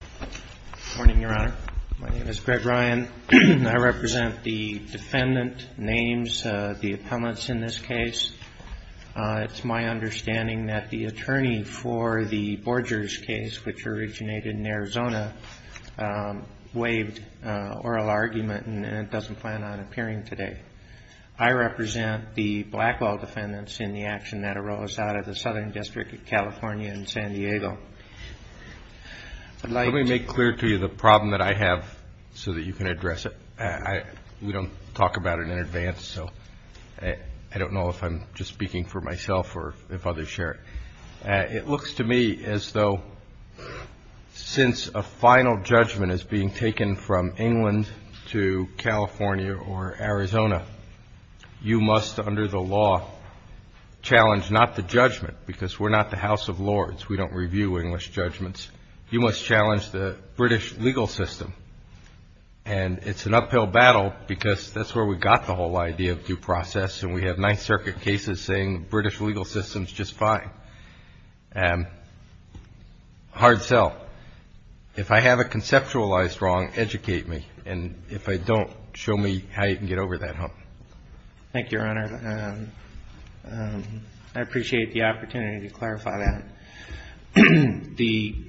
Good morning, Your Honor. My name is Greg Ryan. I represent the defendant names, the appellants in this case. It's my understanding that the attorney for the Borgers case, which originated in Arizona, waived oral argument and doesn't plan on appearing today. I represent the Blackwell defendants in the action that arose out of the Southern District of California in San Diego. Let me make clear to you the problem that I have so that you can address it. We don't talk about it in advance, so I don't know if I'm just speaking for myself or if others share it. It looks to me as though since a final judgment is being taken from England to California or Arizona, you must, under the law, challenge not the judgment, because we're not the House of Lords. We don't review English judgments. You must challenge the British legal system, and it's an uphill battle because that's where we got the whole idea of due process, and we have Ninth Circuit cases saying the British legal system is just fine. Hard sell. If I have a conceptualized wrong, educate me, and if I don't, show me how you can get over that hump. Thank you, Your Honor. I appreciate the opportunity to clarify that. The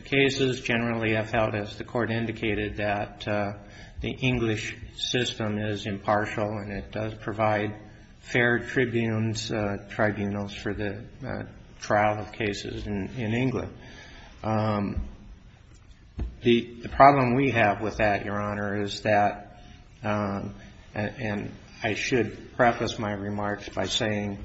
cases generally have held, as the Court indicated, that the English system is impartial and it does provide fair tribunes, tribunals, for the trial of cases in England. The problem we have with that, Your Honor, is that, and I should preface my remarks by saying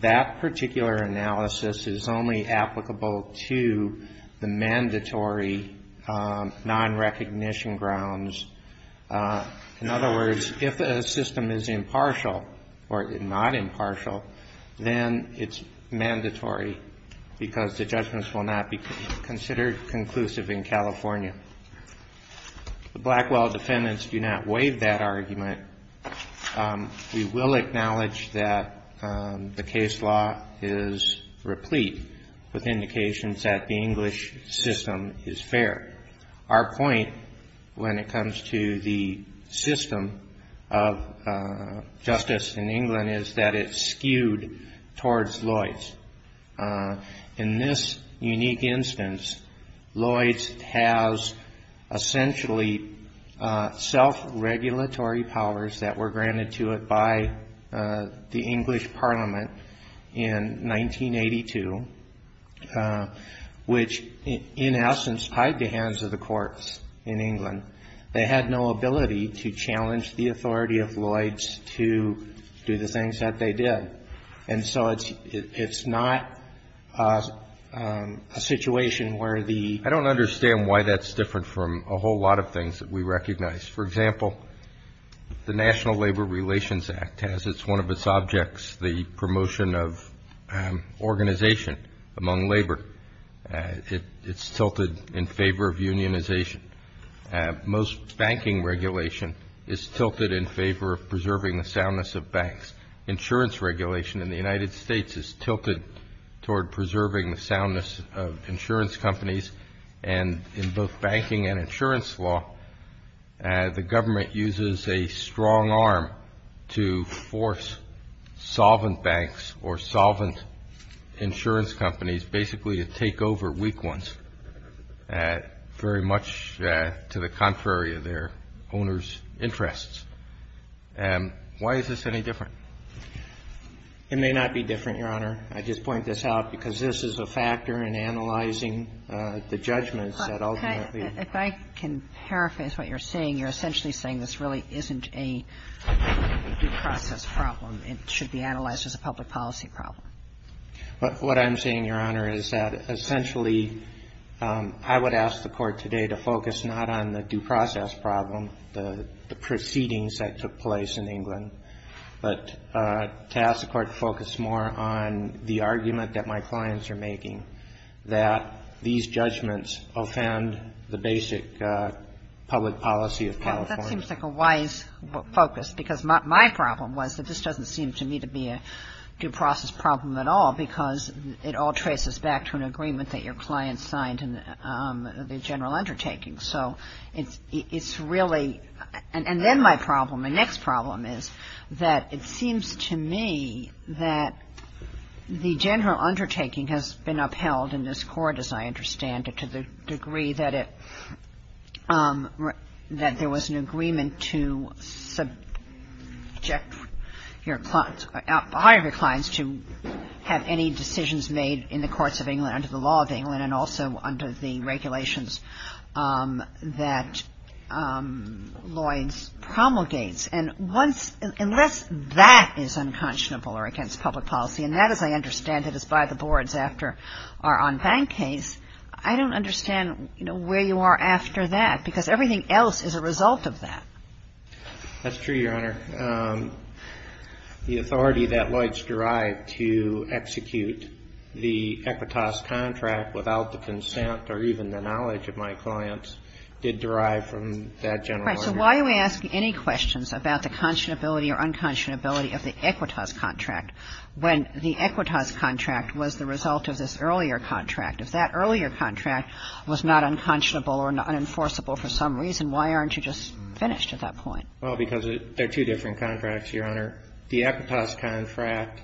that particular analysis is only applicable to the mandatory nonrecognition grounds. In other words, if a system is impartial or not impartial, then it's mandatory because the judgments will not be considered conclusive in California. The Blackwell defendants do not waive that argument. We will acknowledge that the case law is replete with indications that the English system is fair. Our point when it comes to the system of justice in England is that it's skewed towards Lloyds. In this unique instance, Lloyds has essentially self-regulatory powers that were granted to it by the English Parliament in 1982, which, in essence, tied the hands of the courts in England. They had no ability to challenge the authority of Lloyds to do the things that they did. And so it's not a situation where the ---- Most banking regulation is tilted in favor of preserving the soundness of banks. Insurance regulation in the United States is tilted toward preserving the soundness of insurance companies. And in both banking and insurance law, the government uses a strong arm to force solvent banks or solvent insurance companies basically to take over weak ones very much to the contrary of their owners' interests. Why is this any different? It may not be different, Your Honor. I just point this out because this is a factor in analyzing the judgments that ultimately ---- If I can paraphrase what you're saying, you're essentially saying this really isn't a due process problem. It should be analyzed as a public policy problem. What I'm saying, Your Honor, is that essentially I would ask the Court today to focus not on the due process problem, the proceedings that took place in England, but to ask the Court to focus more on the argument that my clients are making, that these judgments offend the basic public policy of California. That seems like a wise focus because my problem was that this doesn't seem to me to be a due process problem at all because it all traces back to an agreement that your client signed in the general undertaking. So it's really ---- and then my problem, my next problem is that it seems to me that the general undertaking has been upheld in this Court, as I understand it, to the degree that it ---- that there was an agreement to subject your clients, to have any decisions made in the courts of England under the law of England and also under the regulations that Lloyds promulgates. And once ---- unless that is unconscionable or against public policy, and that, as I understand it, is by the boards after our en banc case, I don't understand, you know, where you are after that because everything else is a result of that. That's true, Your Honor. The authority that Lloyds derived to execute the Equitas contract without the consent or even the knowledge of my clients did derive from that general understanding. Right. So why are we asking any questions about the conscionability or unconscionability of the Equitas contract when the Equitas contract was the result of this earlier contract? If that earlier contract was not unconscionable or unenforceable for some reason, why aren't you just finished at that point? Well, because there are two different contracts, Your Honor. The Equitas contract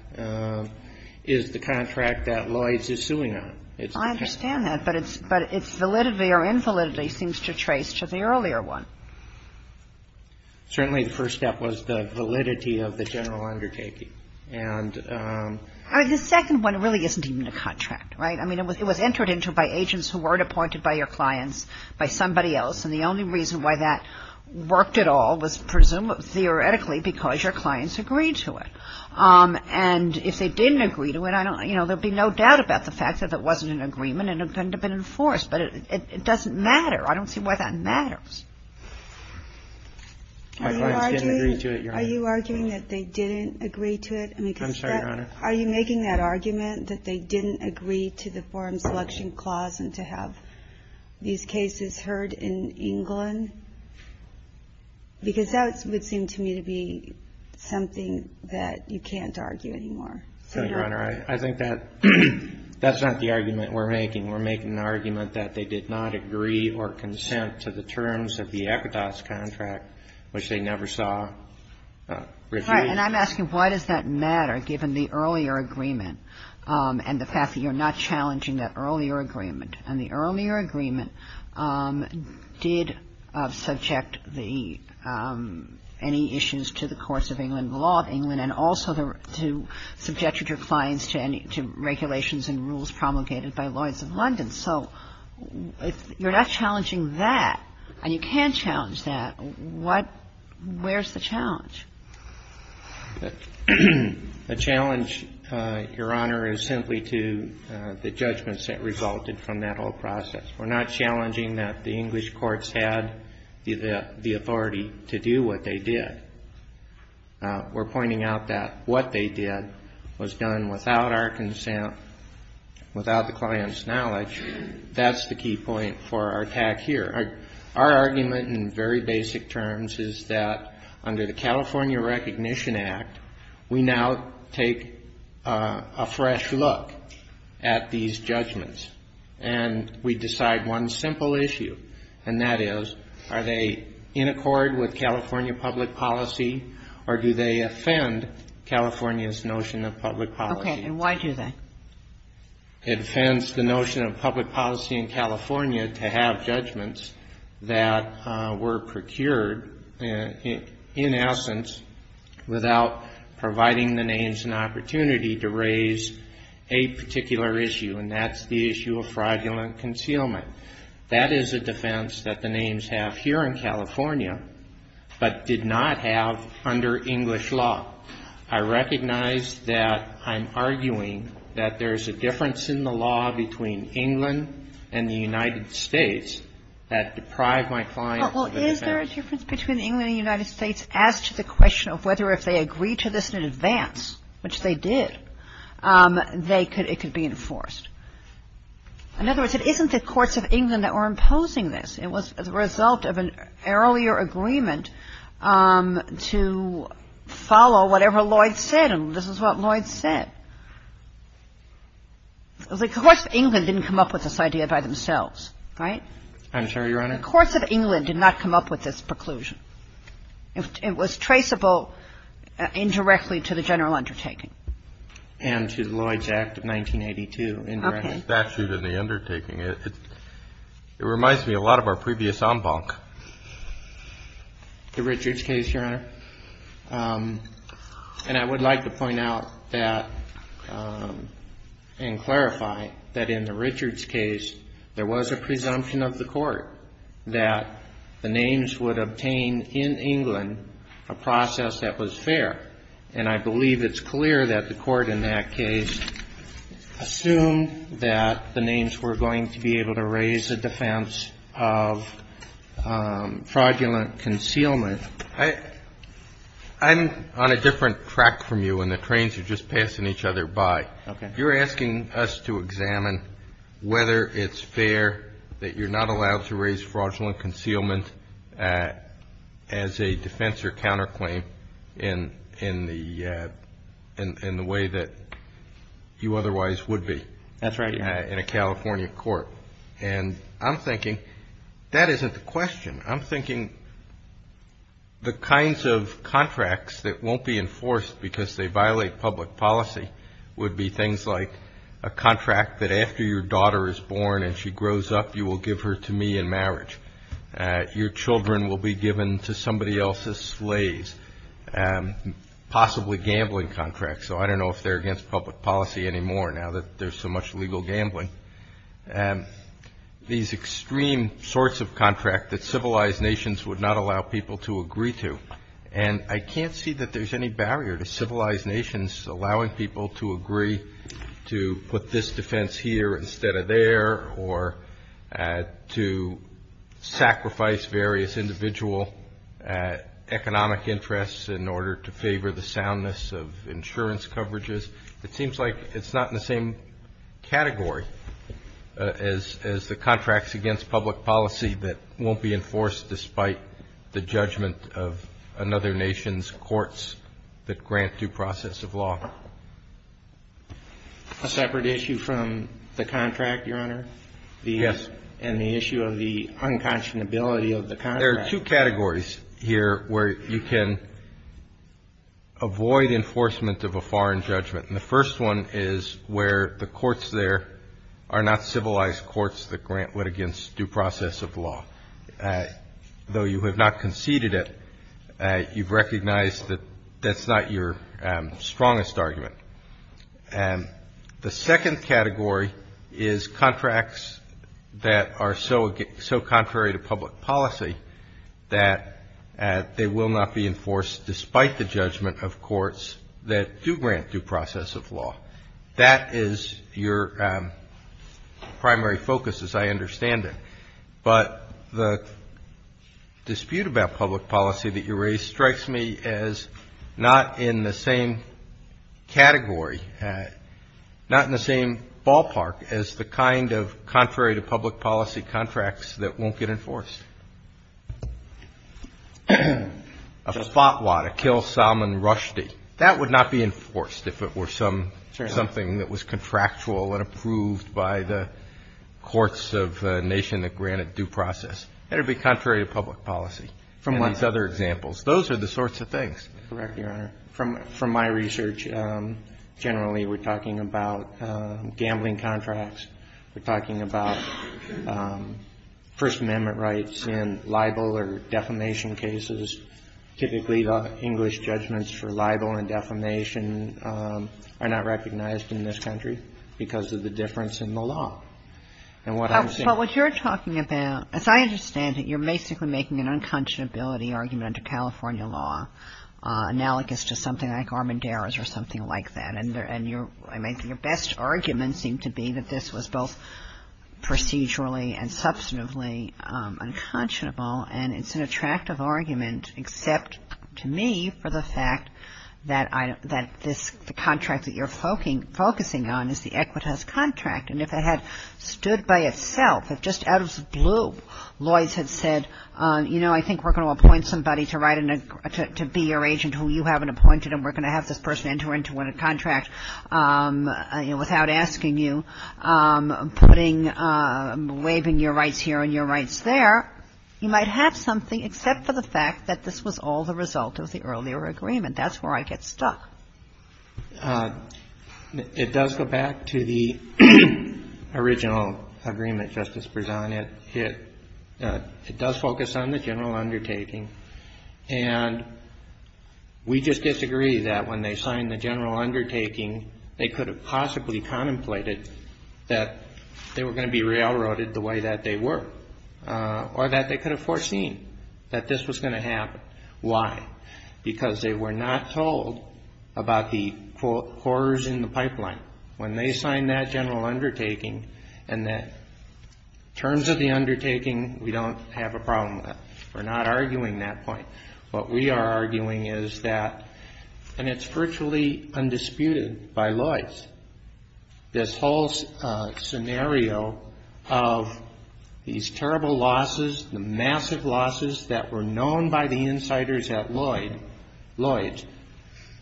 is the contract that Lloyds is suing on. I understand that. But its validity or invalidity seems to trace to the earlier one. Certainly, the first step was the validity of the general undertaking. And ---- The second one really isn't even a contract, right? I mean, it was entered into by agents who weren't appointed by your clients, by somebody else. And the only reason why that worked at all was presumably theoretically because your clients agreed to it. And if they didn't agree to it, I don't ---- you know, there would be no doubt about the fact that it wasn't an agreement and it couldn't have been enforced. But it doesn't matter. I don't see why that matters. My clients didn't agree to it, Your Honor. Are you arguing that they didn't agree to it? I'm sorry, Your Honor. Are you making that argument that they didn't agree to the Forum Selection Clause and to have these cases heard in England? Because that would seem to me to be something that you can't argue anymore. Senator, I think that's not the argument we're making. We're making an argument that they did not agree or consent to the terms of the Equitas contract, which they never saw reviewed. And I'm asking why does that matter, given the earlier agreement and the fact that you're not challenging that earlier agreement? And the earlier agreement did subject the ---- any issues to the courts of England, the law of England, and also to subject your clients to any ---- to regulations and rules promulgated by Lawyers of London. So if you're not challenging that and you can't challenge that, what ---- where's the challenge? The challenge, Your Honor, is simply to the judgments that resulted from that whole process. We're not challenging that the English courts had the authority to do what they did. We're pointing out that what they did was done without our consent, without the client's knowledge. That's the key point for our attack here. Our argument in very basic terms is that under the California Recognition Act, we now take a fresh look at these judgments. And we decide one simple issue, and that is, are they in accord with California public policy, or do they offend California's notion of public policy? And why do they? It offends the notion of public policy in California to have judgments that were procured in essence without providing the names an opportunity to raise a particular issue, and that's the issue of fraudulent concealment. That is a defense that the names have here in California, but did not have under English law. I recognize that I'm arguing that there's a difference in the law between England and the United States that deprive my clients of a defense. Well, is there a difference between England and the United States as to the question of whether if they agreed to this in advance, which they did, they could ---- it could be enforced? In other words, it isn't the courts of England that were imposing this. It was as a result of an earlier agreement to follow whatever Lloyd said, and this is what Lloyd said. The courts of England didn't come up with this idea by themselves, right? I'm sorry, Your Honor? The courts of England did not come up with this preclusion. It was traceable indirectly to the general undertaking. And to Lloyd's Act of 1982. Okay. The statute and the undertaking, it reminds me a lot of our previous en banc. The Richards case, Your Honor? And I would like to point out that and clarify that in the Richards case, there was a presumption of the court that the names would obtain in England a process that was fair. And I believe it's clear that the court in that case assumed that the names were going to be able to raise a defense of fraudulent concealment. I'm on a different track from you, and the trains are just passing each other by. Okay. You're asking us to examine whether it's fair that you're not allowed to raise fraudulent concealment as a defense or counterclaim in the way that you otherwise would be. That's right, Your Honor. In a California court. And I'm thinking that isn't the question. I'm thinking the kinds of contracts that won't be enforced because they violate public policy would be things like a contract that after your daughter is born and she grows up, you will give her to me in marriage. Your children will be given to somebody else's slaves. Possibly gambling contracts. So I don't know if they're against public policy anymore now that there's so much legal gambling. These extreme sorts of contracts that civilized nations would not allow people to agree to. And I can't see that there's any barrier to civilized nations allowing people to agree to put this defense here instead of there or to sacrifice various individual economic interests in order to favor the soundness of insurance coverages. It seems like it's not in the same category as the contracts against public policy that won't be enforced despite the judgment of another nation's courts that grant due process of law. A separate issue from the contract, Your Honor? Yes. And the issue of the unconscionability of the contract. There are two categories here where you can avoid enforcement of a foreign judgment. And the first one is where the courts there are not civilized courts that grant litigants due process of law. Though you have not conceded it, you've recognized that that's not your strongest argument. And the second category is contracts that are so contrary to public policy that they will not be enforced despite the judgment of courts that do grant due process of law. That is your primary focus, as I understand it. But the dispute about public policy that you raise strikes me as not in the same category, not in the same ballpark as the kind of contrary to public policy contracts that won't get enforced. A FOT law to kill Salman Rushdie, that would not be enforced if it were something that was contractual and approved by the courts of the nation that grant it due process. That would be contrary to public policy. From what? And these other examples. Those are the sorts of things. Correct, Your Honor. From my research, generally we're talking about gambling contracts. We're talking about First Amendment rights and libel or defamation cases. Typically the English judgments for libel and defamation are not recognized in this country because of the difference in the law. But what you're talking about, as I understand it, you're basically making an unconscionability argument under California law, analogous to something like Armendariz or something like that. And your best argument seemed to be that this was both procedurally and substantively unconscionable. And it's an attractive argument, except to me for the fact that this contract that you're focusing on is the Equitas contract. And if it had stood by itself, if just out of the blue Lloyds had said, you know, I think we're going to appoint somebody to be your agent who you haven't appointed and we're going to have this person enter into a contract without asking you, putting, waiving your rights here and your rights there, you might have something except for the fact that this was all the result of the earlier agreement. That's where I get stuck. It does go back to the original agreement, Justice Bresant. It does focus on the general undertaking. And we just disagree that when they signed the general undertaking, they could have possibly contemplated that they were going to be railroaded the way that they were or that they could have foreseen that this was going to happen. Why? Because they were not told about the quarters in the pipeline. When they signed that general undertaking, in terms of the undertaking, we don't have a problem with it. We're not arguing that point. What we are arguing is that, and it's virtually undisputed by Lloyds, this whole scenario of these terrible losses, the massive losses that were known by the insiders at Lloyds, Lloyds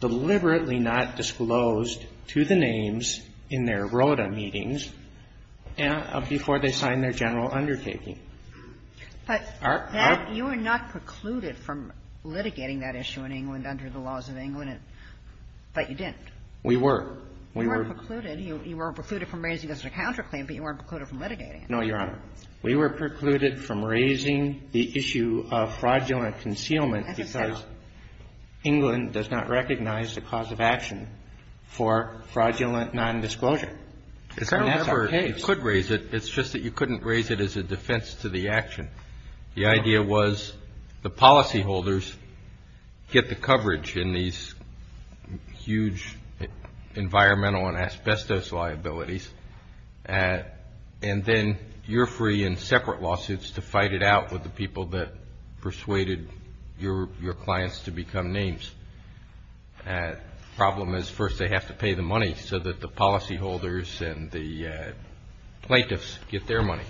deliberately not disclosed to the names in their ROTA meetings before they signed their general undertaking. But that you were not precluded from litigating that issue in England under the laws of England, but you didn't. We were. You weren't precluded. You weren't precluded from raising it as a counterclaim, but you weren't precluded from litigating it. No, Your Honor. We were precluded from raising the issue of fraudulent concealment because England does not recognize the cause of action for fraudulent nondisclosure. And that's our case. It's just that you couldn't raise it as a defense to the action. The idea was the policyholders get the coverage in these huge environmental and asbestos liabilities, and then you're free in separate lawsuits to fight it out with the people that persuaded your clients to become names. The problem is first they have to pay the money so that the policyholders and the plaintiffs get their money.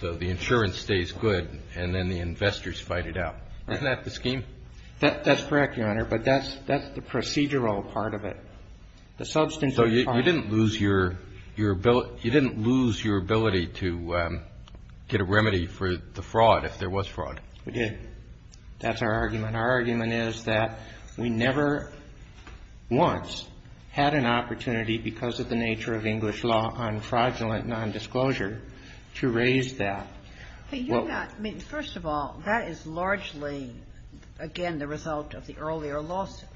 So the insurance stays good, and then the investors fight it out. Isn't that the scheme? That's correct, Your Honor. But that's the procedural part of it. The substance of the fraud. So you didn't lose your ability to get a remedy for the fraud if there was fraud. We did. That's our argument. And our argument is that we never once had an opportunity because of the nature of English law on fraudulent nondisclosure to raise that. But you're not. I mean, first of all, that is largely, again, the result of the earlier lawsuit,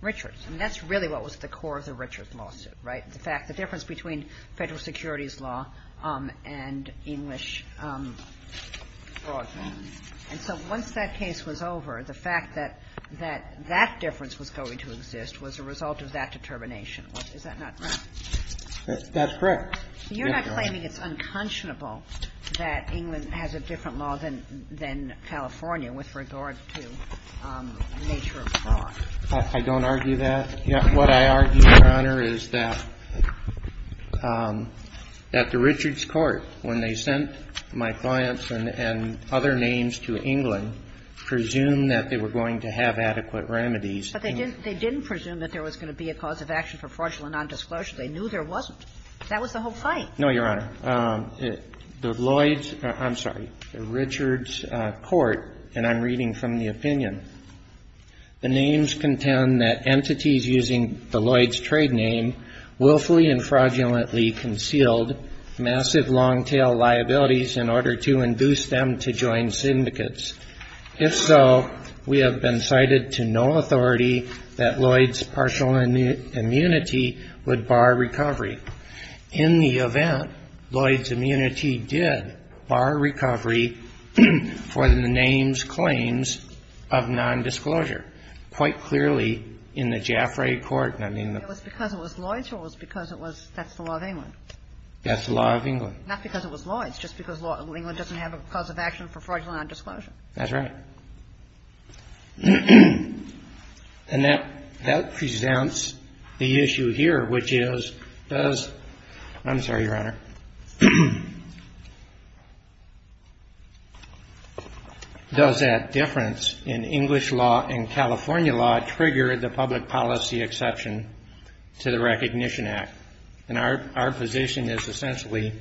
Richards. I mean, that's really what was at the core of the Richards lawsuit, right, the fact the difference between Federal securities law and English fraud law. And so once that case was over, the fact that that difference was going to exist was a result of that determination. Is that not right? That's correct. You're not claiming it's unconscionable that England has a different law than California with regard to nature of fraud. I don't argue that. What I argue, Your Honor, is that at the Richards court, when they sent my clients and other names to England, presumed that they were going to have adequate remedies. But they didn't presume that there was going to be a cause of action for fraudulent nondisclosure. They knew there wasn't. That was the whole fight. No, Your Honor. The Lloyds – I'm sorry. The Richards court, and I'm reading from the opinion, the names contend that entities using the Lloyds trade name willfully and fraudulently concealed massive long-tail liabilities in order to induce them to join syndicates. If so, we have been cited to no authority that Lloyds partial immunity would bar recovery. In the event, Lloyds immunity did bar recovery for the names claims of nondisclosure. Quite clearly, in the Jaffray court, I mean, the – It was because it was Lloyds or it was because it was – that's the law of England. That's the law of England. Not because it was Lloyds, just because England doesn't have a cause of action for fraudulent nondisclosure. That's right. And that presents the issue here, which is, does – I'm sorry, Your Honor. Does that difference in English law and California law trigger the public policy exception to the Recognition Act? And our position is essentially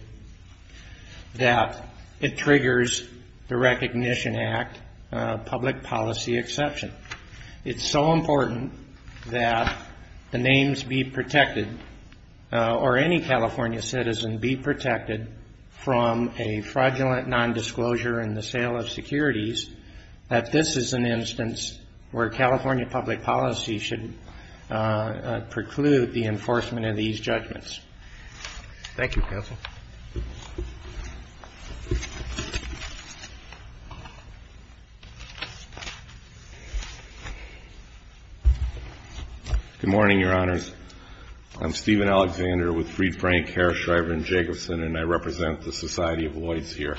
that it triggers the Recognition Act public policy exception. It's so important that the names be protected or any California citizen be protected from a fraudulent nondisclosure in the sale of securities that this is an instance where California public policy should preclude the enforcement of these judgments. Thank you, counsel. Good morning, Your Honors. I'm Stephen Alexander with Fried Frank, Herr, Shriver, and Jacobson, and I represent the Society of Lloyds here.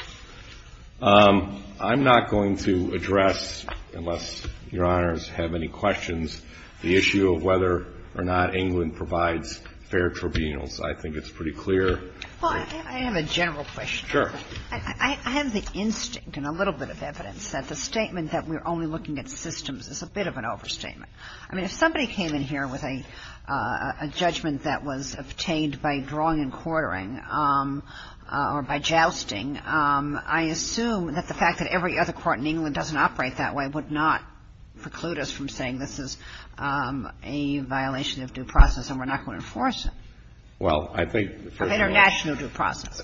I'm not going to address, unless Your Honors have any questions, the issue of whether or not England provides fair tribunals. I think it's pretty clear. Well, I have a general question. Sure. I have the instinct and a little bit of evidence that the statement that we're only looking at systems is a bit of an overstatement. I mean, if somebody came in here with a judgment that was obtained by drawing and quartering or by jousting, I assume that the fact that every other court in England doesn't operate that way would not preclude us from saying this is a violation of due process and we're not going to enforce it. Well, I think, first of all. Of international due process.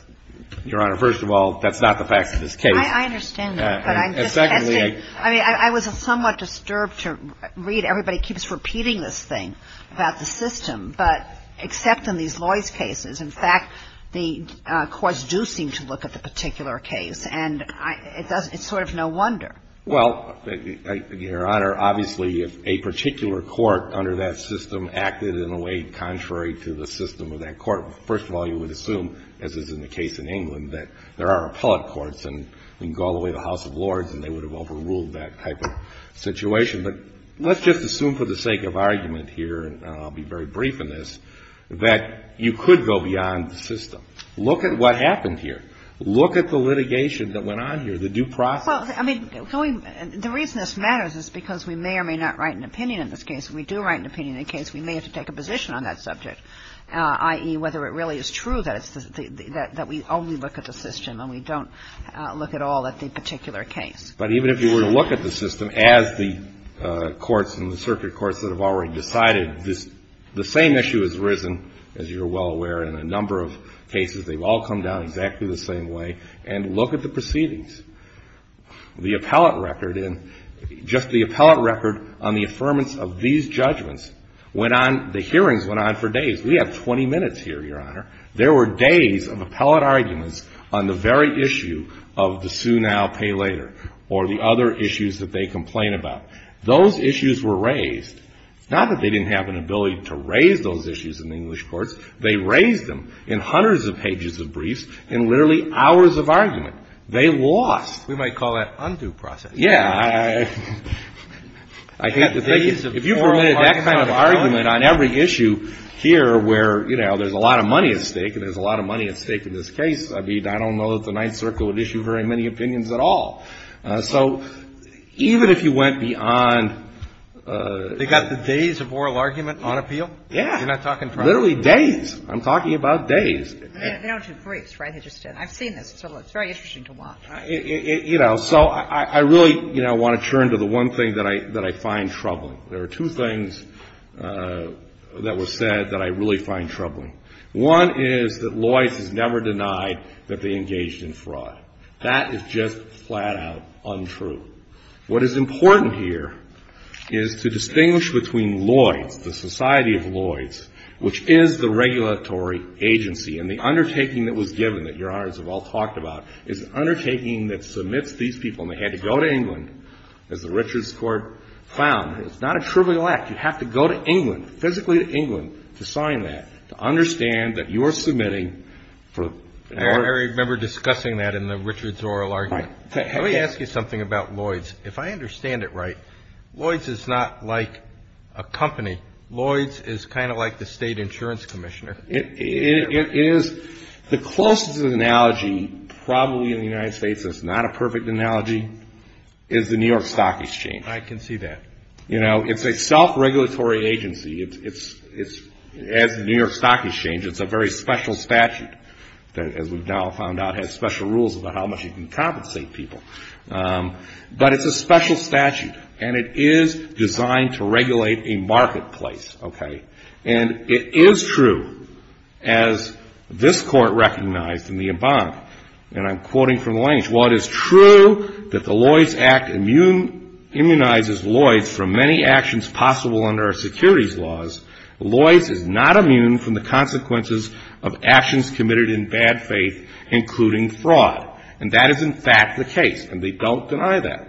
Your Honor, first of all, that's not the facts of this case. I understand that. But I'm just testing. And secondly, I. I mean, I was somewhat disturbed to read. Everybody keeps repeating this thing about the system. But except in these Lloyd's cases, in fact, the courts do seem to look at the particular case. And it's sort of no wonder. Well, Your Honor, obviously, if a particular court under that system acted in a way contrary to the system of that court, first of all, you would assume, as is in the case in England, that there are appellate courts and we can go all the way to the House of Lords and they would have overruled that type of situation. But let's just assume for the sake of argument here, and I'll be very brief in this, that you could go beyond the system. Look at what happened here. Look at the litigation that went on here, the due process. Well, I mean, the reason this matters is because we may or may not write an opinion in this case. If we do write an opinion in a case, we may have to take a position on that subject, i.e., whether it really is true that we only look at the system and we don't look at all at the particular case. But even if you were to look at the system, as the courts and the circuit courts that have already decided, the same issue has risen, as you're well aware, in a number of cases. They've all come down exactly the same way. And look at the proceedings. The appellate record in, just the appellate record on the affirmance of these judgments went on, the hearings went on for days. We have 20 minutes here, Your Honor. There were days of appellate arguments on the very issue of the sue now, pay later, or the other issues that they complain about. Those issues were raised. Not that they didn't have an ability to raise those issues in the English courts. They raised them in hundreds of pages of briefs in literally hours of argument. They lost. We might call that undue processing. Yeah. I hate to think of it. If you permitted that kind of argument on every issue here where, you know, there's a lot of money at stake and there's a lot of money at stake in this case, I don't know that the Ninth Circle would issue very many opinions at all. So even if you went beyond... They got the days of oral argument on appeal? Yeah. You're not talking fraud? Literally days. I'm talking about days. They don't do briefs, right? They just did. I've seen this. It's very interesting to watch. You know, so I really, you know, want to turn to the one thing that I find troubling. There are two things that were said that I really find troubling. One is that Loyce has never denied that they engaged in fraud. That is just flat-out untrue. What is important here is to distinguish between Loyce, the Society of Loyce, which is the regulatory agency and the undertaking that was given that Your Honors have all talked about is an undertaking that submits these people and they had to go to England, as the Richards Court found. It's not a trivial act. You have to go to England, physically to England, to sign that, to understand that you're submitting... I remember discussing that in the Richards oral argument. Let me ask you something about Loyce. If I understand it right, Loyce is not like a company. Loyce is kind of like the state insurance commissioner. It is. The closest analogy, probably in the United States that's not a perfect analogy, is the New York Stock Exchange. I can see that. You know, it's a self-regulatory agency. It's, as the New York Stock Exchange, it's a very special statute that, as we've now found out, has special rules about how much you can compensate people. But it's a special statute and it is designed to regulate a marketplace. Okay? And it is true, as this Court recognized in the bond, and I'm quoting from the language, while it is true that the Loyce Act immunizes Loyce from many actions possible under our securities laws, Loyce is not immune from the consequences of actions committed in bad faith, including fraud. And that is, in fact, the case. And they don't deny that.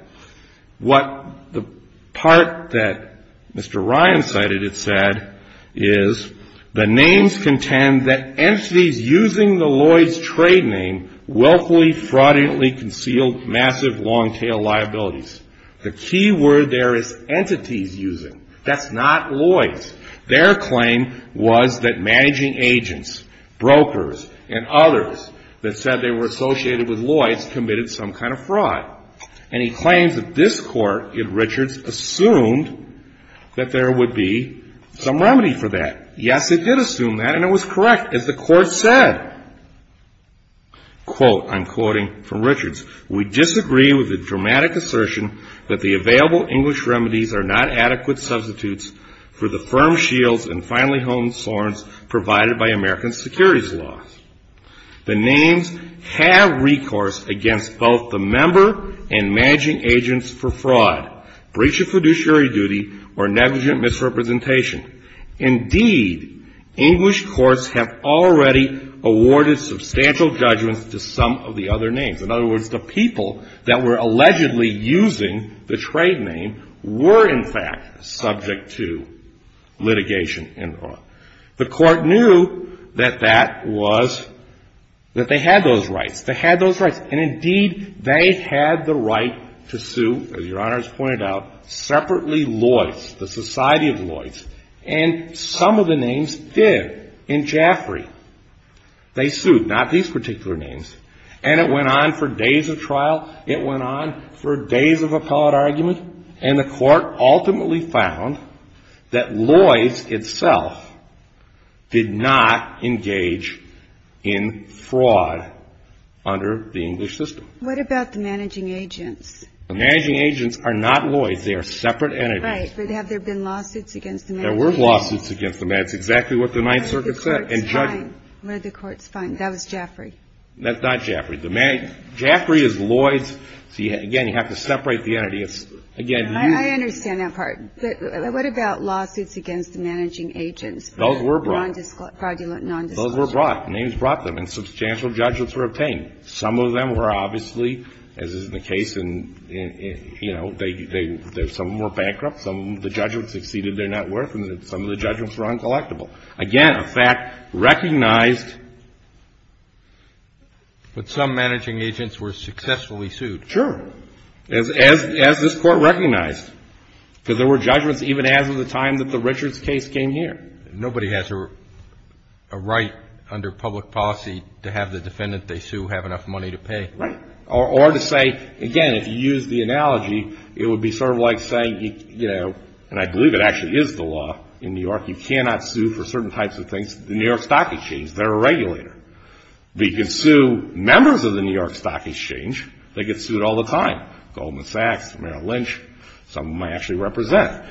What the part that Mr. Ryan cited it said is the names contend that entities using the Loyce trade name willfully, fraudulently concealed massive, long-tail liabilities. The key word there is entities using. That's not Loyce. Their claim was that managing agents, brokers, and others that said they were associated with Loyce committed some kind of fraud. And he claims that this Court, in Richards, assumed that there would be some remedy for that. Yes, it did assume that and it was correct, as the Court said. Quote, I'm quoting from Richards, We disagree with the dramatic assertion that the available English remedies are not adequate substitutes for the firm shields and finely honed sworns provided by American securities laws. The names have recourse against both the member and managing agents for fraud, breach of fiduciary duty, or negligent misrepresentation. Indeed, English courts have already awarded substantial judgments to some of the other names. In other words, the people that were allegedly using the trade name were, in fact, subject to litigation. The Court knew that that was that they had those rights. And indeed, they had the right to sue, as Your Honor has pointed out, separately Loyce, the Society of Loyce. And some of the names did. In Jaffrey, they sued. Not these particular names. And it went on for days of trial. It went on for days of appellate argument. And the Court ultimately found that Loyce itself did not engage in fraud under the English system. What about the managing agents? The managing agents are not Loyce. They are separate entities. Right. But have there been lawsuits against them? There were lawsuits against them. That's exactly what the Ninth Circuit said. Where the Court's fine. Where the Court's fine. That was Jaffrey. That's not Jaffrey. Jaffrey is Loyce. Again, you have to separate the entities. I understand that part. But what about lawsuits against the managing agents? Those were brought. Those were brought. Names brought them. And substantial judgments were obtained. Some of them were obviously, as is the case in, you know, some were bankrupt. Some of the judgments exceeded their net worth. And some of the judgments were uncollectible. Again, a fact recognized that some managing agents were successfully sued. Sure. As this Court recognized. Because there were judgments even as of the time that the Richards case came here. Nobody has a right under public policy to have the defendant they sue have enough money to pay. Right. Or to say, again, if you use the analogy, it would be sort of like saying, and I believe it actually is the law in New York, you cannot sue for certain types of New York Stock Exchange. They're a regulator. But you can sue members of the New York Stock Exchange. They get sued all the time. Goldman Sachs. Merrill Lynch. Some of them I actually represent.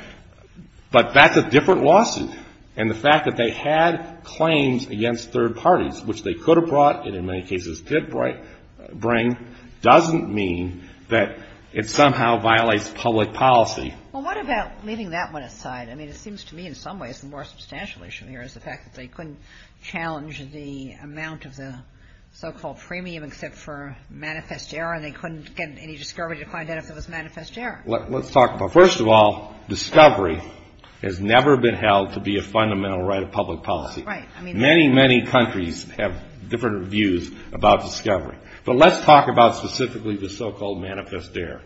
But that's a different lawsuit. And the fact that they had claims against third parties, which they could have brought, and in many cases did bring, doesn't mean that it somehow violates public policy. Well, what about leaving that one aside? I mean, it seems to me in some ways a more substantial issue here is the fact that they couldn't challenge the amount of the so-called premium except for manifest error, and they couldn't get any discovery to find out if it was manifest error. Let's talk about it. First of all, discovery has never been held to be a fundamental right of public policy. Right. I mean, many, many countries have different views about discovery. But let's talk about specifically the so-called manifest error.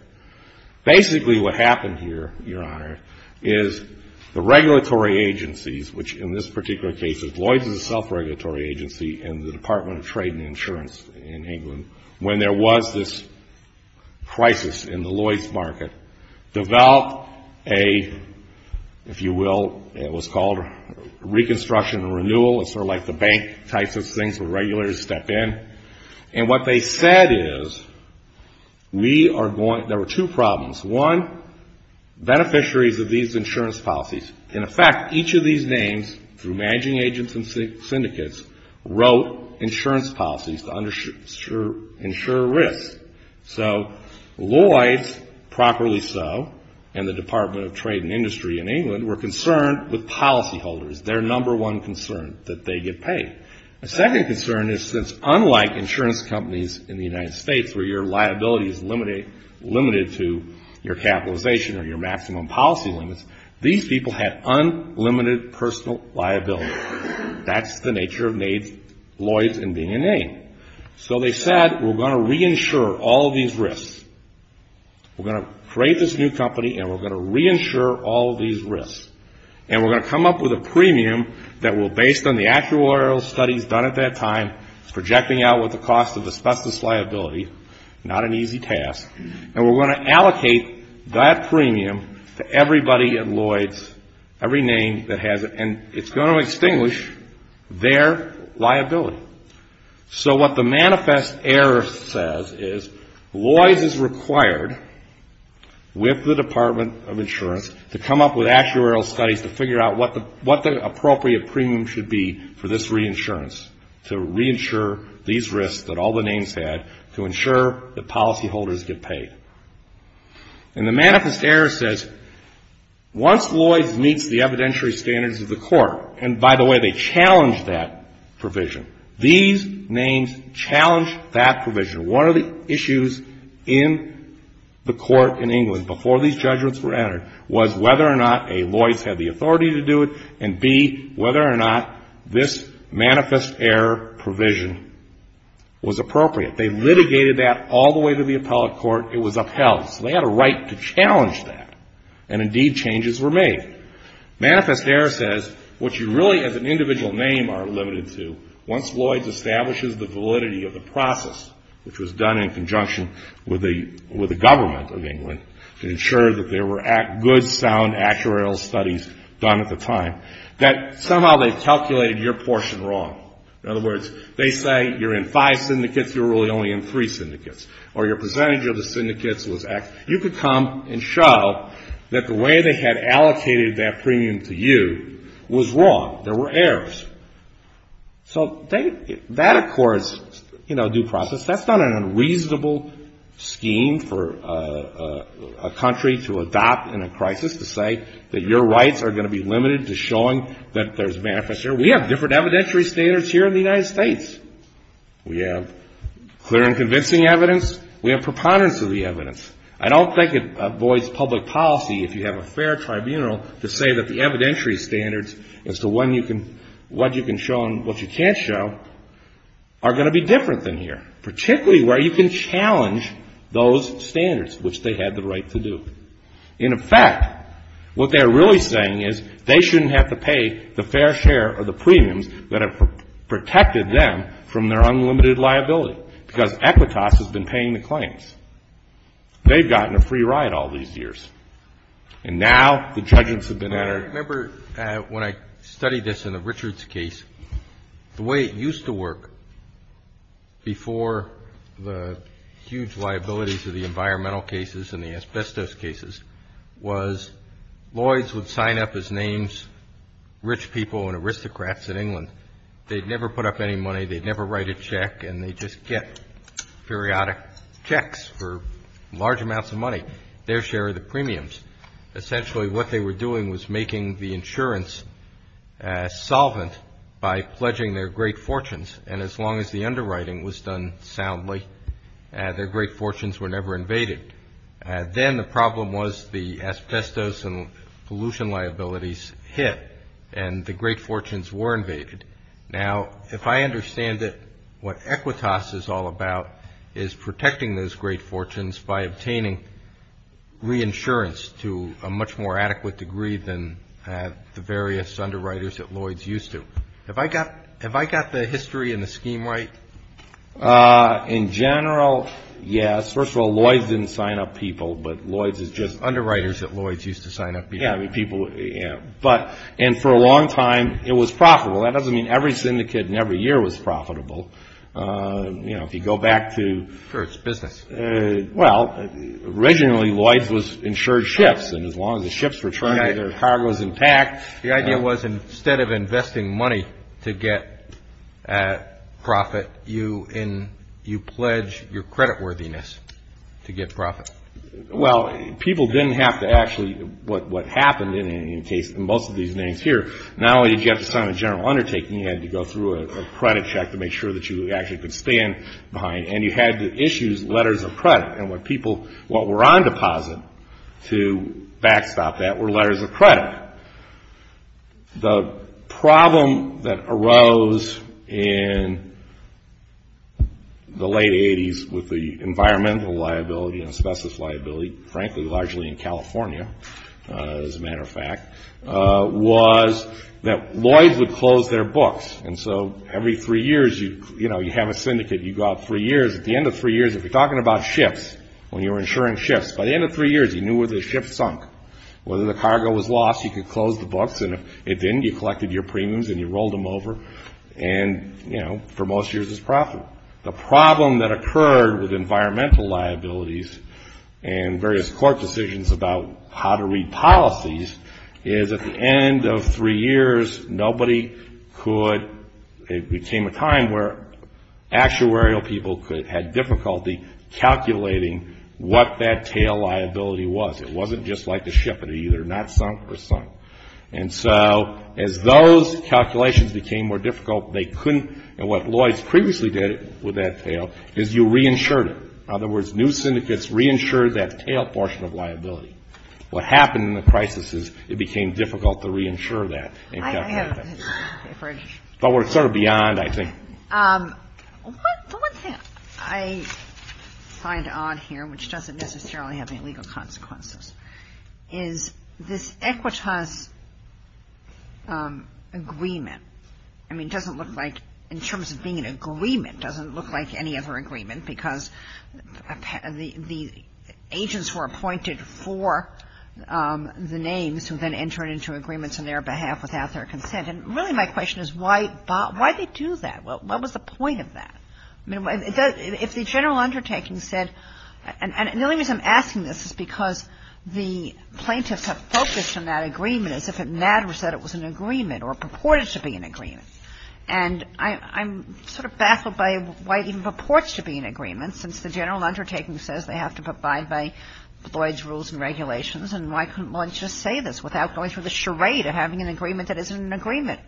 Basically, what happened here, Your Honor, is the regulatory agencies, which in this particular case, Lloyds is a self-regulatory agency and the Department of Trade and Insurance in England, when there was this crisis in the Lloyds market, developed a, if you will, it was called reconstruction and renewal. It's sort of like the bank types of things where regulators step in. And what they said is we are going, there were two problems. One, beneficiaries of these insurance policies can affect each of these names through managing agents and syndicates wrote insurance policies to ensure risk. So Lloyds, properly so, and the Department of Trade and Industry in England were concerned with policyholders, their number one concern that they get paid. A second concern is since unlike insurance companies in the United States where your liability is limited to your capitalization or your maximum policy limits, these people had unlimited personal liability. That's the nature of Lloyds in being a name. So they said we're going to re-insure all these risks. We're going to create this new company and we're going to re-insure all these risks. And we're going to come up with a premium that will, based on the actuarial studies done at that time, projecting out what the cost of asbestos liability, not an easy task, and we're going to allocate that premium to everybody at Lloyds, every name that has it, and it's going to extinguish their liability. So what the manifest error says is Lloyds is required with the Department of Insurance to come up with actuarial studies to figure out what the appropriate premium should be for this re-insurance, to re-insure these risks that all the names had to ensure that policyholders get paid. And the manifest error says once Lloyds meets the evidentiary standards of the court, and by the way, they challenge that provision. These names challenge that provision. One of the issues in the court in England, before these judgements were entered, was whether or not a Lloyds had the authority to do it, and b, whether or not this manifest error provision was appropriate. They litigated that all the way to the appellate court. It was upheld, so they had a right to challenge that, and indeed changes were made. Manifest error says what you really as an individual name are limited to, once Lloyds establishes the validity of the process, which was done in conjunction with the government of England to ensure that there were good, sound actuarial studies done at the time, that somehow they've calculated your portion wrong. In other words, they say you're in five syndicates, you're really only in three syndicates, or your percentage of the syndicates was X. You could come and show that the way they had allocated that premium to you was wrong. There were errors. So they that of course, you know due process, that's not an unreasonable scheme for a country to adopt in a crisis to say that your rights are going to be limited to showing that there's manifest error. We have different evidentiary standards here in the United States. We have clear and convincing evidence. We have preponderance of the evidence. I don't think it avoids public policy if you have a fair tribunal to say that the evidentiary standards as to what you can show and what you can't show are going to be different than here. Particularly where you can challenge those standards, which they had the right to do. In effect, what they're really saying is they shouldn't have to pay the fair share of the premiums that have protected them from their unlimited liability. Because Equitas has been paying the claims. They've gotten a free ride all these years. And now the judgements have been added. I remember when I studied this in the Richards case the way it used to work before the huge liabilities of the environmental cases and the asbestos cases was Lloyds would sign up as names rich people and aristocrats in England. They'd never put up any money. They'd never write a check and they'd just get periodic checks for large amounts of money. Their share of the premiums. Essentially what they were doing was making the insurance solvent by pledging their great fortunes. And as long as the underwriting was done soundly their great fortunes were never invaded. Then the asbestos and pollution liabilities hit and the great fortunes were invaded. Now if I understand it what Equitas is all about is protecting those great fortunes by obtaining reinsurance to a much more adequate degree than the various underwriters that Lloyds used to. Have I got the history and the scheme right? In general yes. First of all Lloyds didn't sign up people but Lloyds is just underwriters that Lloyds used to sign up people but and for a long time it was profitable. That doesn't mean every syndicate in every year was profitable. You know if you go back to Sure it's business. Well originally Lloyds was insured ships and as long as the ships were trying their cargoes intact The idea was instead of investing money to get profit you pledge your creditworthiness to get profit. Well people didn't have to actually what happened in most of these names here not only did you have to sign a general undertaking you had to go through a credit check to make sure that you actually could stand behind and you had to issue letters of credit and what people what were on deposit to backstop that were letters of credit. The problem that arose in the late 80s with the environmental liability and asbestos liability frankly largely in California as a matter of fact was that Lloyds would close their books and so every three years you know you have a syndicate you go out three years at the end of three years if you're talking about ships when you were insuring ships by the end of three years you knew where the ships sunk whether the cargo was lost you could close the books and if it didn't you collected your premiums and you rolled them over and you know for most years it was profitable. The problem that occurred with environmental liabilities and various court decisions about how to read policies is at the end of three years nobody could it became a time where actuarial people had difficulty calculating what that tail liability was it wasn't just like a ship it either not sunk or sunk and so as those calculations became more difficult they couldn't and what Lloyds previously did with that tail is you reinsured it in other words new syndicates reinsured that tail portion of liability what happened in the crisis is it became difficult to reinsure that but we're sort of beyond I think The one thing I find odd here which doesn't necessarily have any legal consequences is this Equitas Agreement I mean it doesn't look like in terms of being an agreement it doesn't look like any other agreement because the agents were appointed for the names who then entered into agreements on their behalf without their consent and really my question is why they do that what was the point of that if the general undertaking said and the only reason I'm asking this is because the plaintiffs have focused on that agreement as if it matters that it was an agreement or purported to be an agreement and I'm sort of baffled by why it even purports to be an agreement since the general undertaking says they have to abide by Lloyds rules and regulations and why couldn't Lloyds just say this without going through the charade of having an agreement that isn't an agreement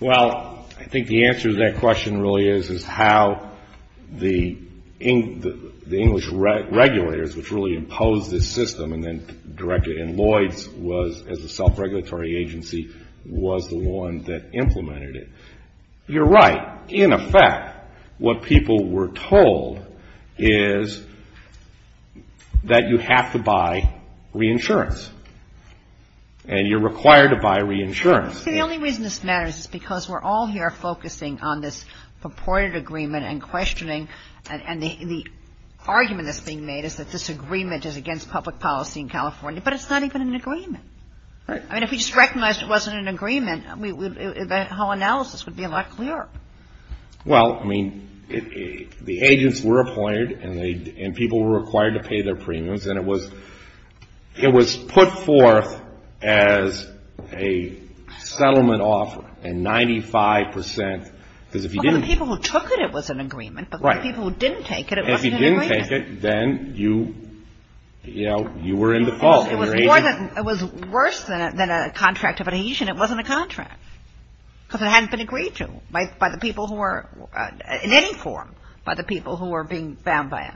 Well I think the answer to that question really is how the English regulators which really imposed this system and then directed and Lloyds as a self-regulatory agency was the one that implemented it You're right, in effect what people were told is that you have to buy reinsurance and you're required to buy reinsurance See the only reason this matters is because we're all here focusing on this purported agreement and questioning and the argument that's being made is that this agreement is against public policy in California but it's not even an agreement I mean if we just recognized it wasn't an agreement the whole analysis would be a lot clearer Well I mean the agents were appointed and people were required to pay their premiums and it was it was put forth as a settlement offer and 95% Well for the people who took it it was an agreement but for the people who didn't take it it wasn't an agreement If you didn't take it then you were in the fault It was worse than a contract of adhesion, it wasn't a contract because it hadn't been agreed to by the people who were in any form by the people who were being bound by it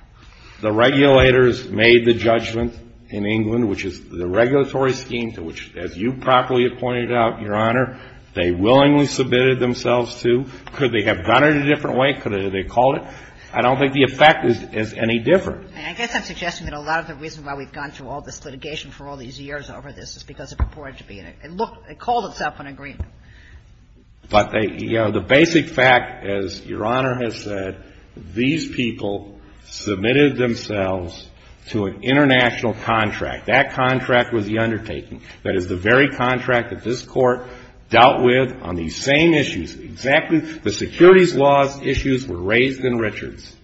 The regulators made the judgment in England which is the regulatory scheme to which as you properly pointed out Your Honor, they willingly submitted themselves to Could they have done it a different way? Could they have called it? I don't think the effect is any different I guess I'm suggesting that a lot of the reason why we've gone through all this litigation for all these years over this is because it purported to be and it looked it called itself an agreement But the basic fact as Your Honor has said these people submitted themselves to an international contract that contract was the undertaking that is the very contract that this court dealt with on these same issues exactly the securities laws issues were raised in Richards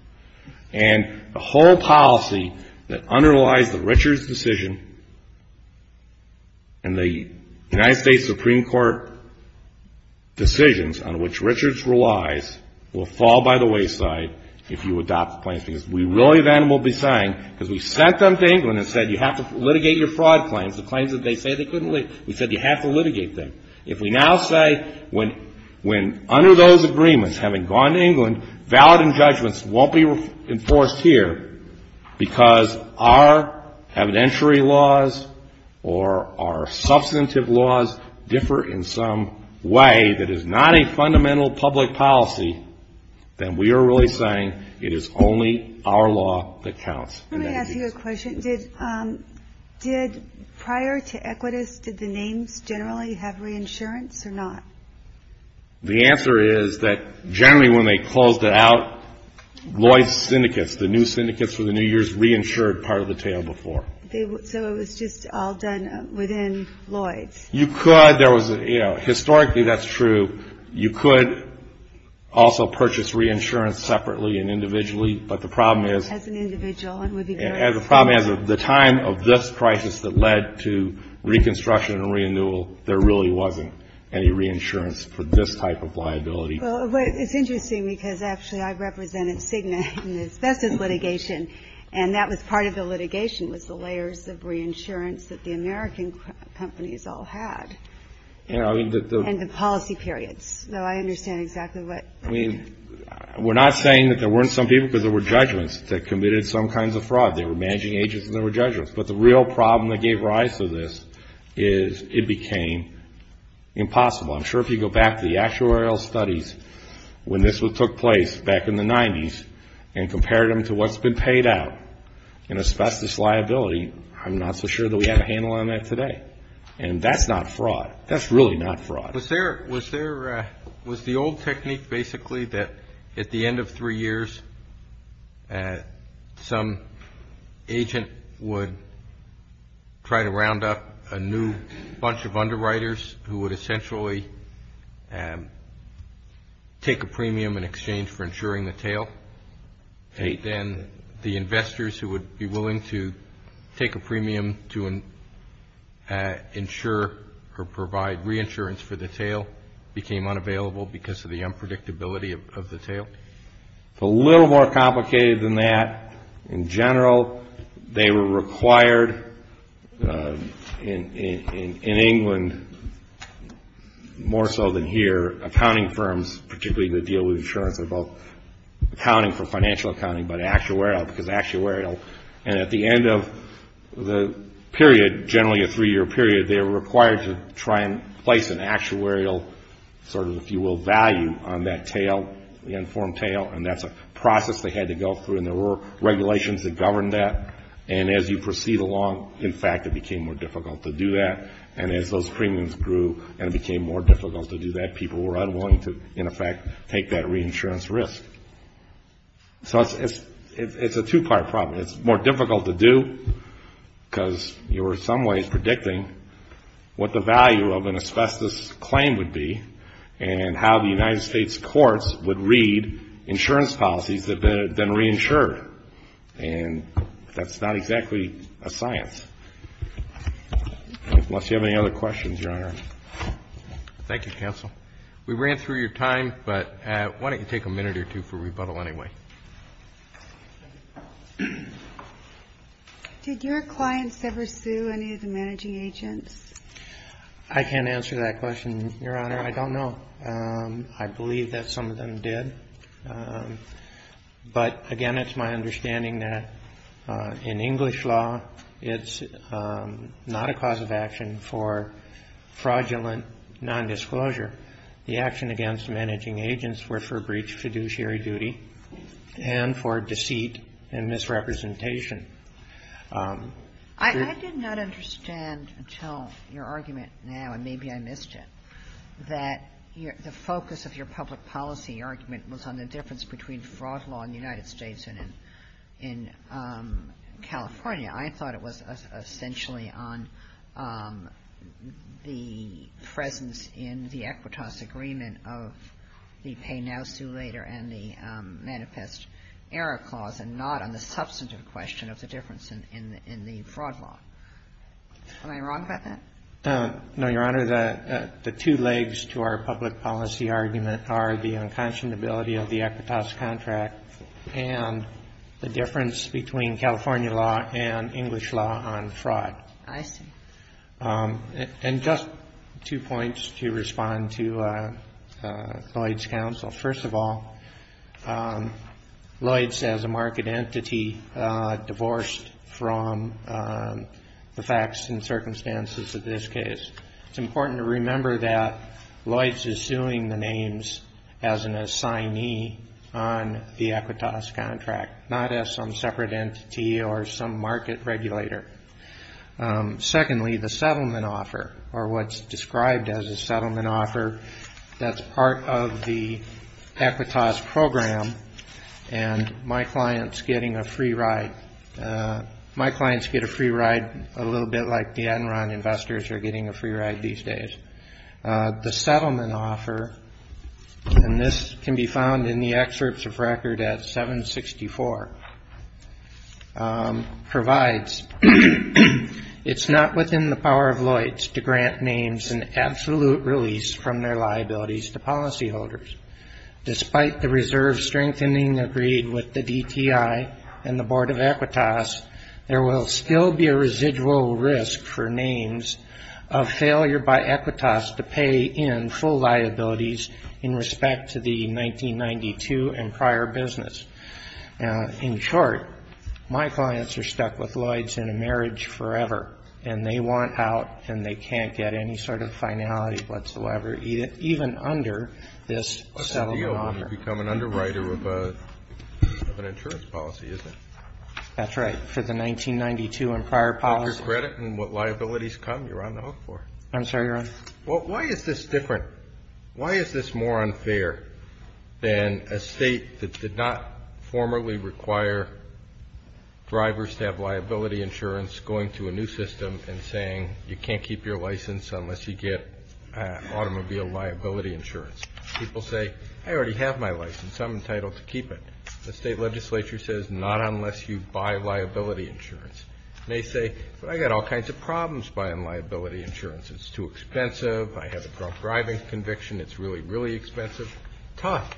and the whole policy that underlies the Richards decision and the United States Supreme Court decisions on which Richards relies will fall by the wayside if you adopt the claims because we really then will be saying because we sent them to England and said you have to litigate your fraud claims we said you have to litigate them if we now say when under those agreements having gone to England valid and judgments won't be enforced here because our evidentiary laws or our substantive laws differ in some way that is not a fundamental public policy then we are really saying it is only our law that counts Let me ask you a question did prior to Equitas did the names generally have reinsurance or not? The answer is that generally when they closed it out Lloyd's syndicates, the new syndicates for the new years reinsured part of the tail before so it was just all done within Lloyd's Historically that's true you could also purchase reinsurance separately and individually but the problem is the problem is the time of this crisis that led to reconstruction and renewal there really wasn't any reinsurance for this type of liability It's interesting because actually I represented Cigna and that was part of the litigation was the layers of reinsurance that the American companies all had and the policy periods I understand exactly what I mean we're not saying that there weren't some people because there were judgements that committed some kinds of fraud they were managing agents and there were judgements but the real problem that gave rise to this is it became impossible I'm sure if you go back to the actuarial studies when this took place back in the 90's and compared them to what's been paid out in asbestos liability I'm not so sure that we have a handle on that today and that's not fraud that's really not fraud Was there was the old technique basically that at the end of three years some agent would try to round up a new bunch of underwriters who would essentially take a premium in exchange for insuring the tail then the investors who would be willing to take a premium to insure or provide reinsurance for the tail became unavailable because of the unpredictability of the tail It's a little more complicated than that in general they were required in England more so than here accounting firms particularly the deal with insurance are both accounting for financial accounting but actuarial because actuarial and at the end of the period generally a three year period they were required to try and place an actuarial sort of if you will value on that tail the informed tail and that's a process they had to go through and there were regulations that governed that and as you proceed along in fact it became more difficult to do that and as those premiums grew and it became more difficult to do that people were unwilling to in effect take that reinsurance risk so it's a two part problem it's more difficult to do because you're in some ways predicting what the value of an asbestos claim would be and how the United States courts would read insurance policies that have been reinsured and that's not exactly a science unless you have any other questions your honor thank you counsel we ran through your time but why don't you take a minute or two for rebuttal anyway did your clients ever sue any of the managing agents I can't answer that question your honor I don't know I believe that some of them did but again it's my understanding that in English law it's not a cause of action for fraudulent nondisclosure the action against managing agents were for breach of fiduciary duty and for misrepresentation I did not understand until your argument now and maybe I missed it that the focus of your public policy argument was on the difference between fraud law in the United States and in California I thought it was essentially on the presence in the Equitas agreement of the pay now sue later and the manifest error clause and not on the substantive question of the difference in the fraud law am I wrong about that no your honor the two legs to our public policy argument are the unconscionability of the Equitas contract and the difference between California law and English law on fraud I see and just two points to respond to Lloyd's counsel first of all Lloyd's as a market entity divorced from the facts and circumstances of this case it's important to remember that Lloyd's is suing the names as an assignee on the Equitas contract not as some separate entity or some market regulator secondly the settlement offer or what's described as a settlement offer that's part of the Equitas program and my clients getting a free ride my clients get a free ride a little bit like the Enron investors are getting a free ride these days the settlement offer and this can be found in the excerpts of record at 764 provides it's not within the power of Lloyd's to grant names an absolute release from their liabilities to policyholders despite the reserve strengthening agreed with the DTI and the board of Equitas there will still be a residual risk for names of failure by Equitas to pay in full liabilities in respect to the 1992 and prior business in short my clients are stuck with Lloyd's in a marriage forever and they want out and they can't get any sort of under this settlement offer you become an underwriter of an insurance policy isn't it that's right for the 1992 and prior policy what liabilities come you're on the hook for I'm sorry your on why is this different why is this more unfair than a state that did not formally require drivers to have liability insurance going to a new system and saying you can't keep your license unless you get automobile liability insurance people say I already have my license I'm entitled to keep it the state legislature says not unless you buy liability insurance they say I got all kinds of problems buying liability insurance it's too expensive I have a drunk driving conviction it's really really expensive tough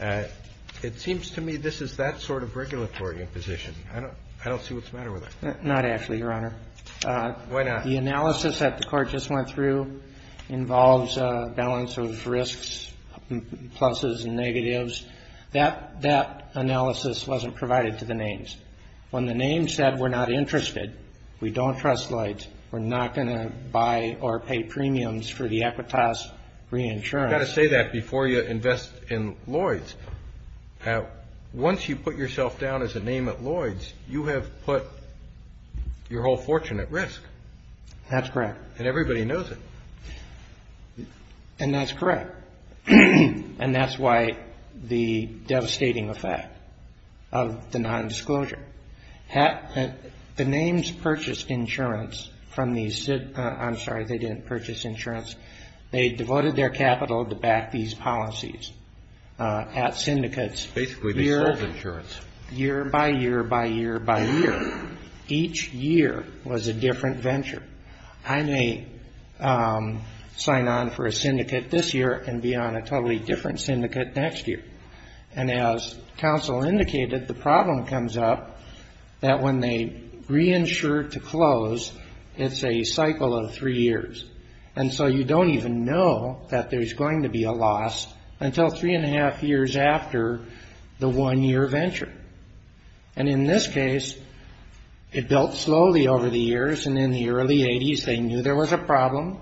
it seems to me this is that sort of regulatory imposition I don't see what's the matter with it not actually your honor why not the analysis that the court just went through involves a balance of risks pluses and negatives that analysis wasn't provided to the names when the names said we're not interested we don't trust Lloyd's we're not going to buy or pay premiums for the Equitas reinsurance you've got to say that before you invest in Lloyd's once you put yourself down as a name at Lloyd's you have put your whole fortune at risk that's correct and everybody knows it and that's correct and that's why the devastating effect of the nondisclosure the names purchased insurance from the I'm sorry they didn't purchase insurance they devoted their capital to back these policies at syndicates basically they sold insurance year by year by year by year each year was a different venture I may sign on for a syndicate this year and be on a totally different syndicate next year and as counsel indicated the problem comes up that when they reinsure to close it's a cycle of three years and so you don't even know that there's going to be a loss until three and a half years after the one year venture and in this case it built slowly over the years and in the early 80s they knew there was a problem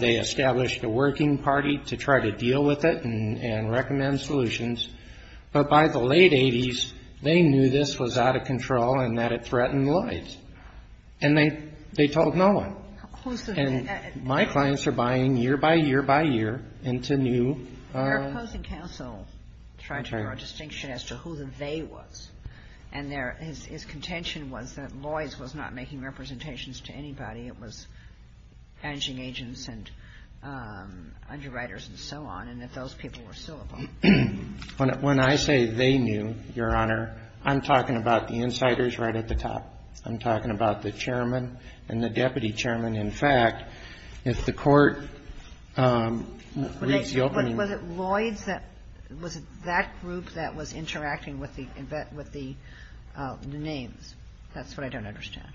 they established a working party to try to deal with it and recommend solutions but by the late 80s they knew this was out of control and that it threatened Lloyd's and they told no one and my clients are buying year by year by year into new they're opposing counsel trying to draw a distinction as to who the they was and his contention was that Lloyd's was not making representations to anybody it was managing agents and underwriters and so on and that those people were still involved when I say they knew, your honor I'm talking about the insiders right at the top I'm talking about the chairman and the deputy chairman in fact if the court reads the opening was it Lloyd's that was it that group that was interacting with the names that's what I don't understand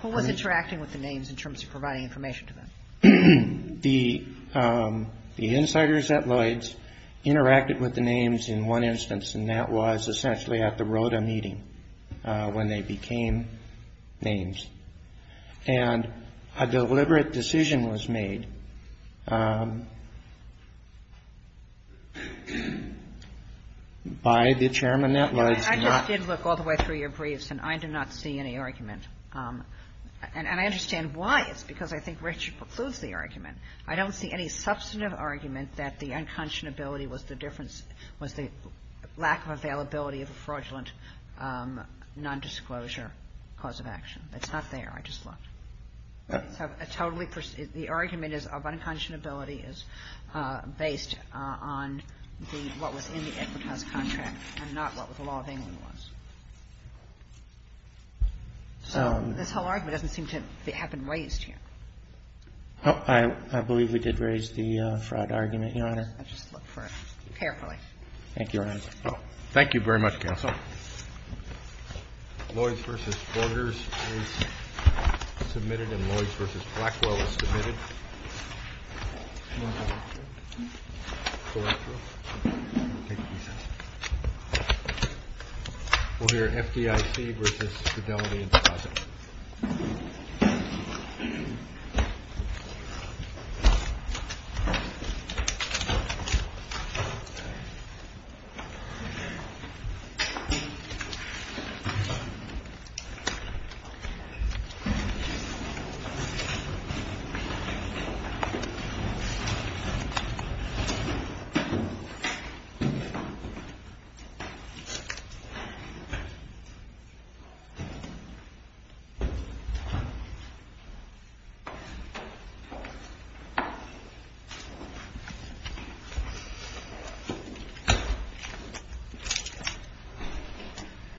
who was interacting with the names in terms of providing information to them the insiders at Lloyd's interacted with the names in one instance and that was essentially at the ROTA meeting when they became names and a deliberate decision was made by the chairman at Lloyd's I just did look all the way through your briefs and I do not see any argument and I understand why it's because I think Richard concludes the argument I don't see any substantive argument that the unconscionability was the difference was the lack of availability of a fraudulent non-disclosure cause of action it's not there I just looked the argument of unconscionability is based on what was in the Equitas contract and not what the law of England was so this whole argument doesn't seem to have been raised here I believe we did raise the fraud argument Your Honor I'll just look for it carefully Thank you Your Honor Thank you very much Counsel Lloyd's v. Borgers is submitted and Lloyd's v. Blackwell is submitted We'll hear FDIC v. Fidelity and Fossett Thank you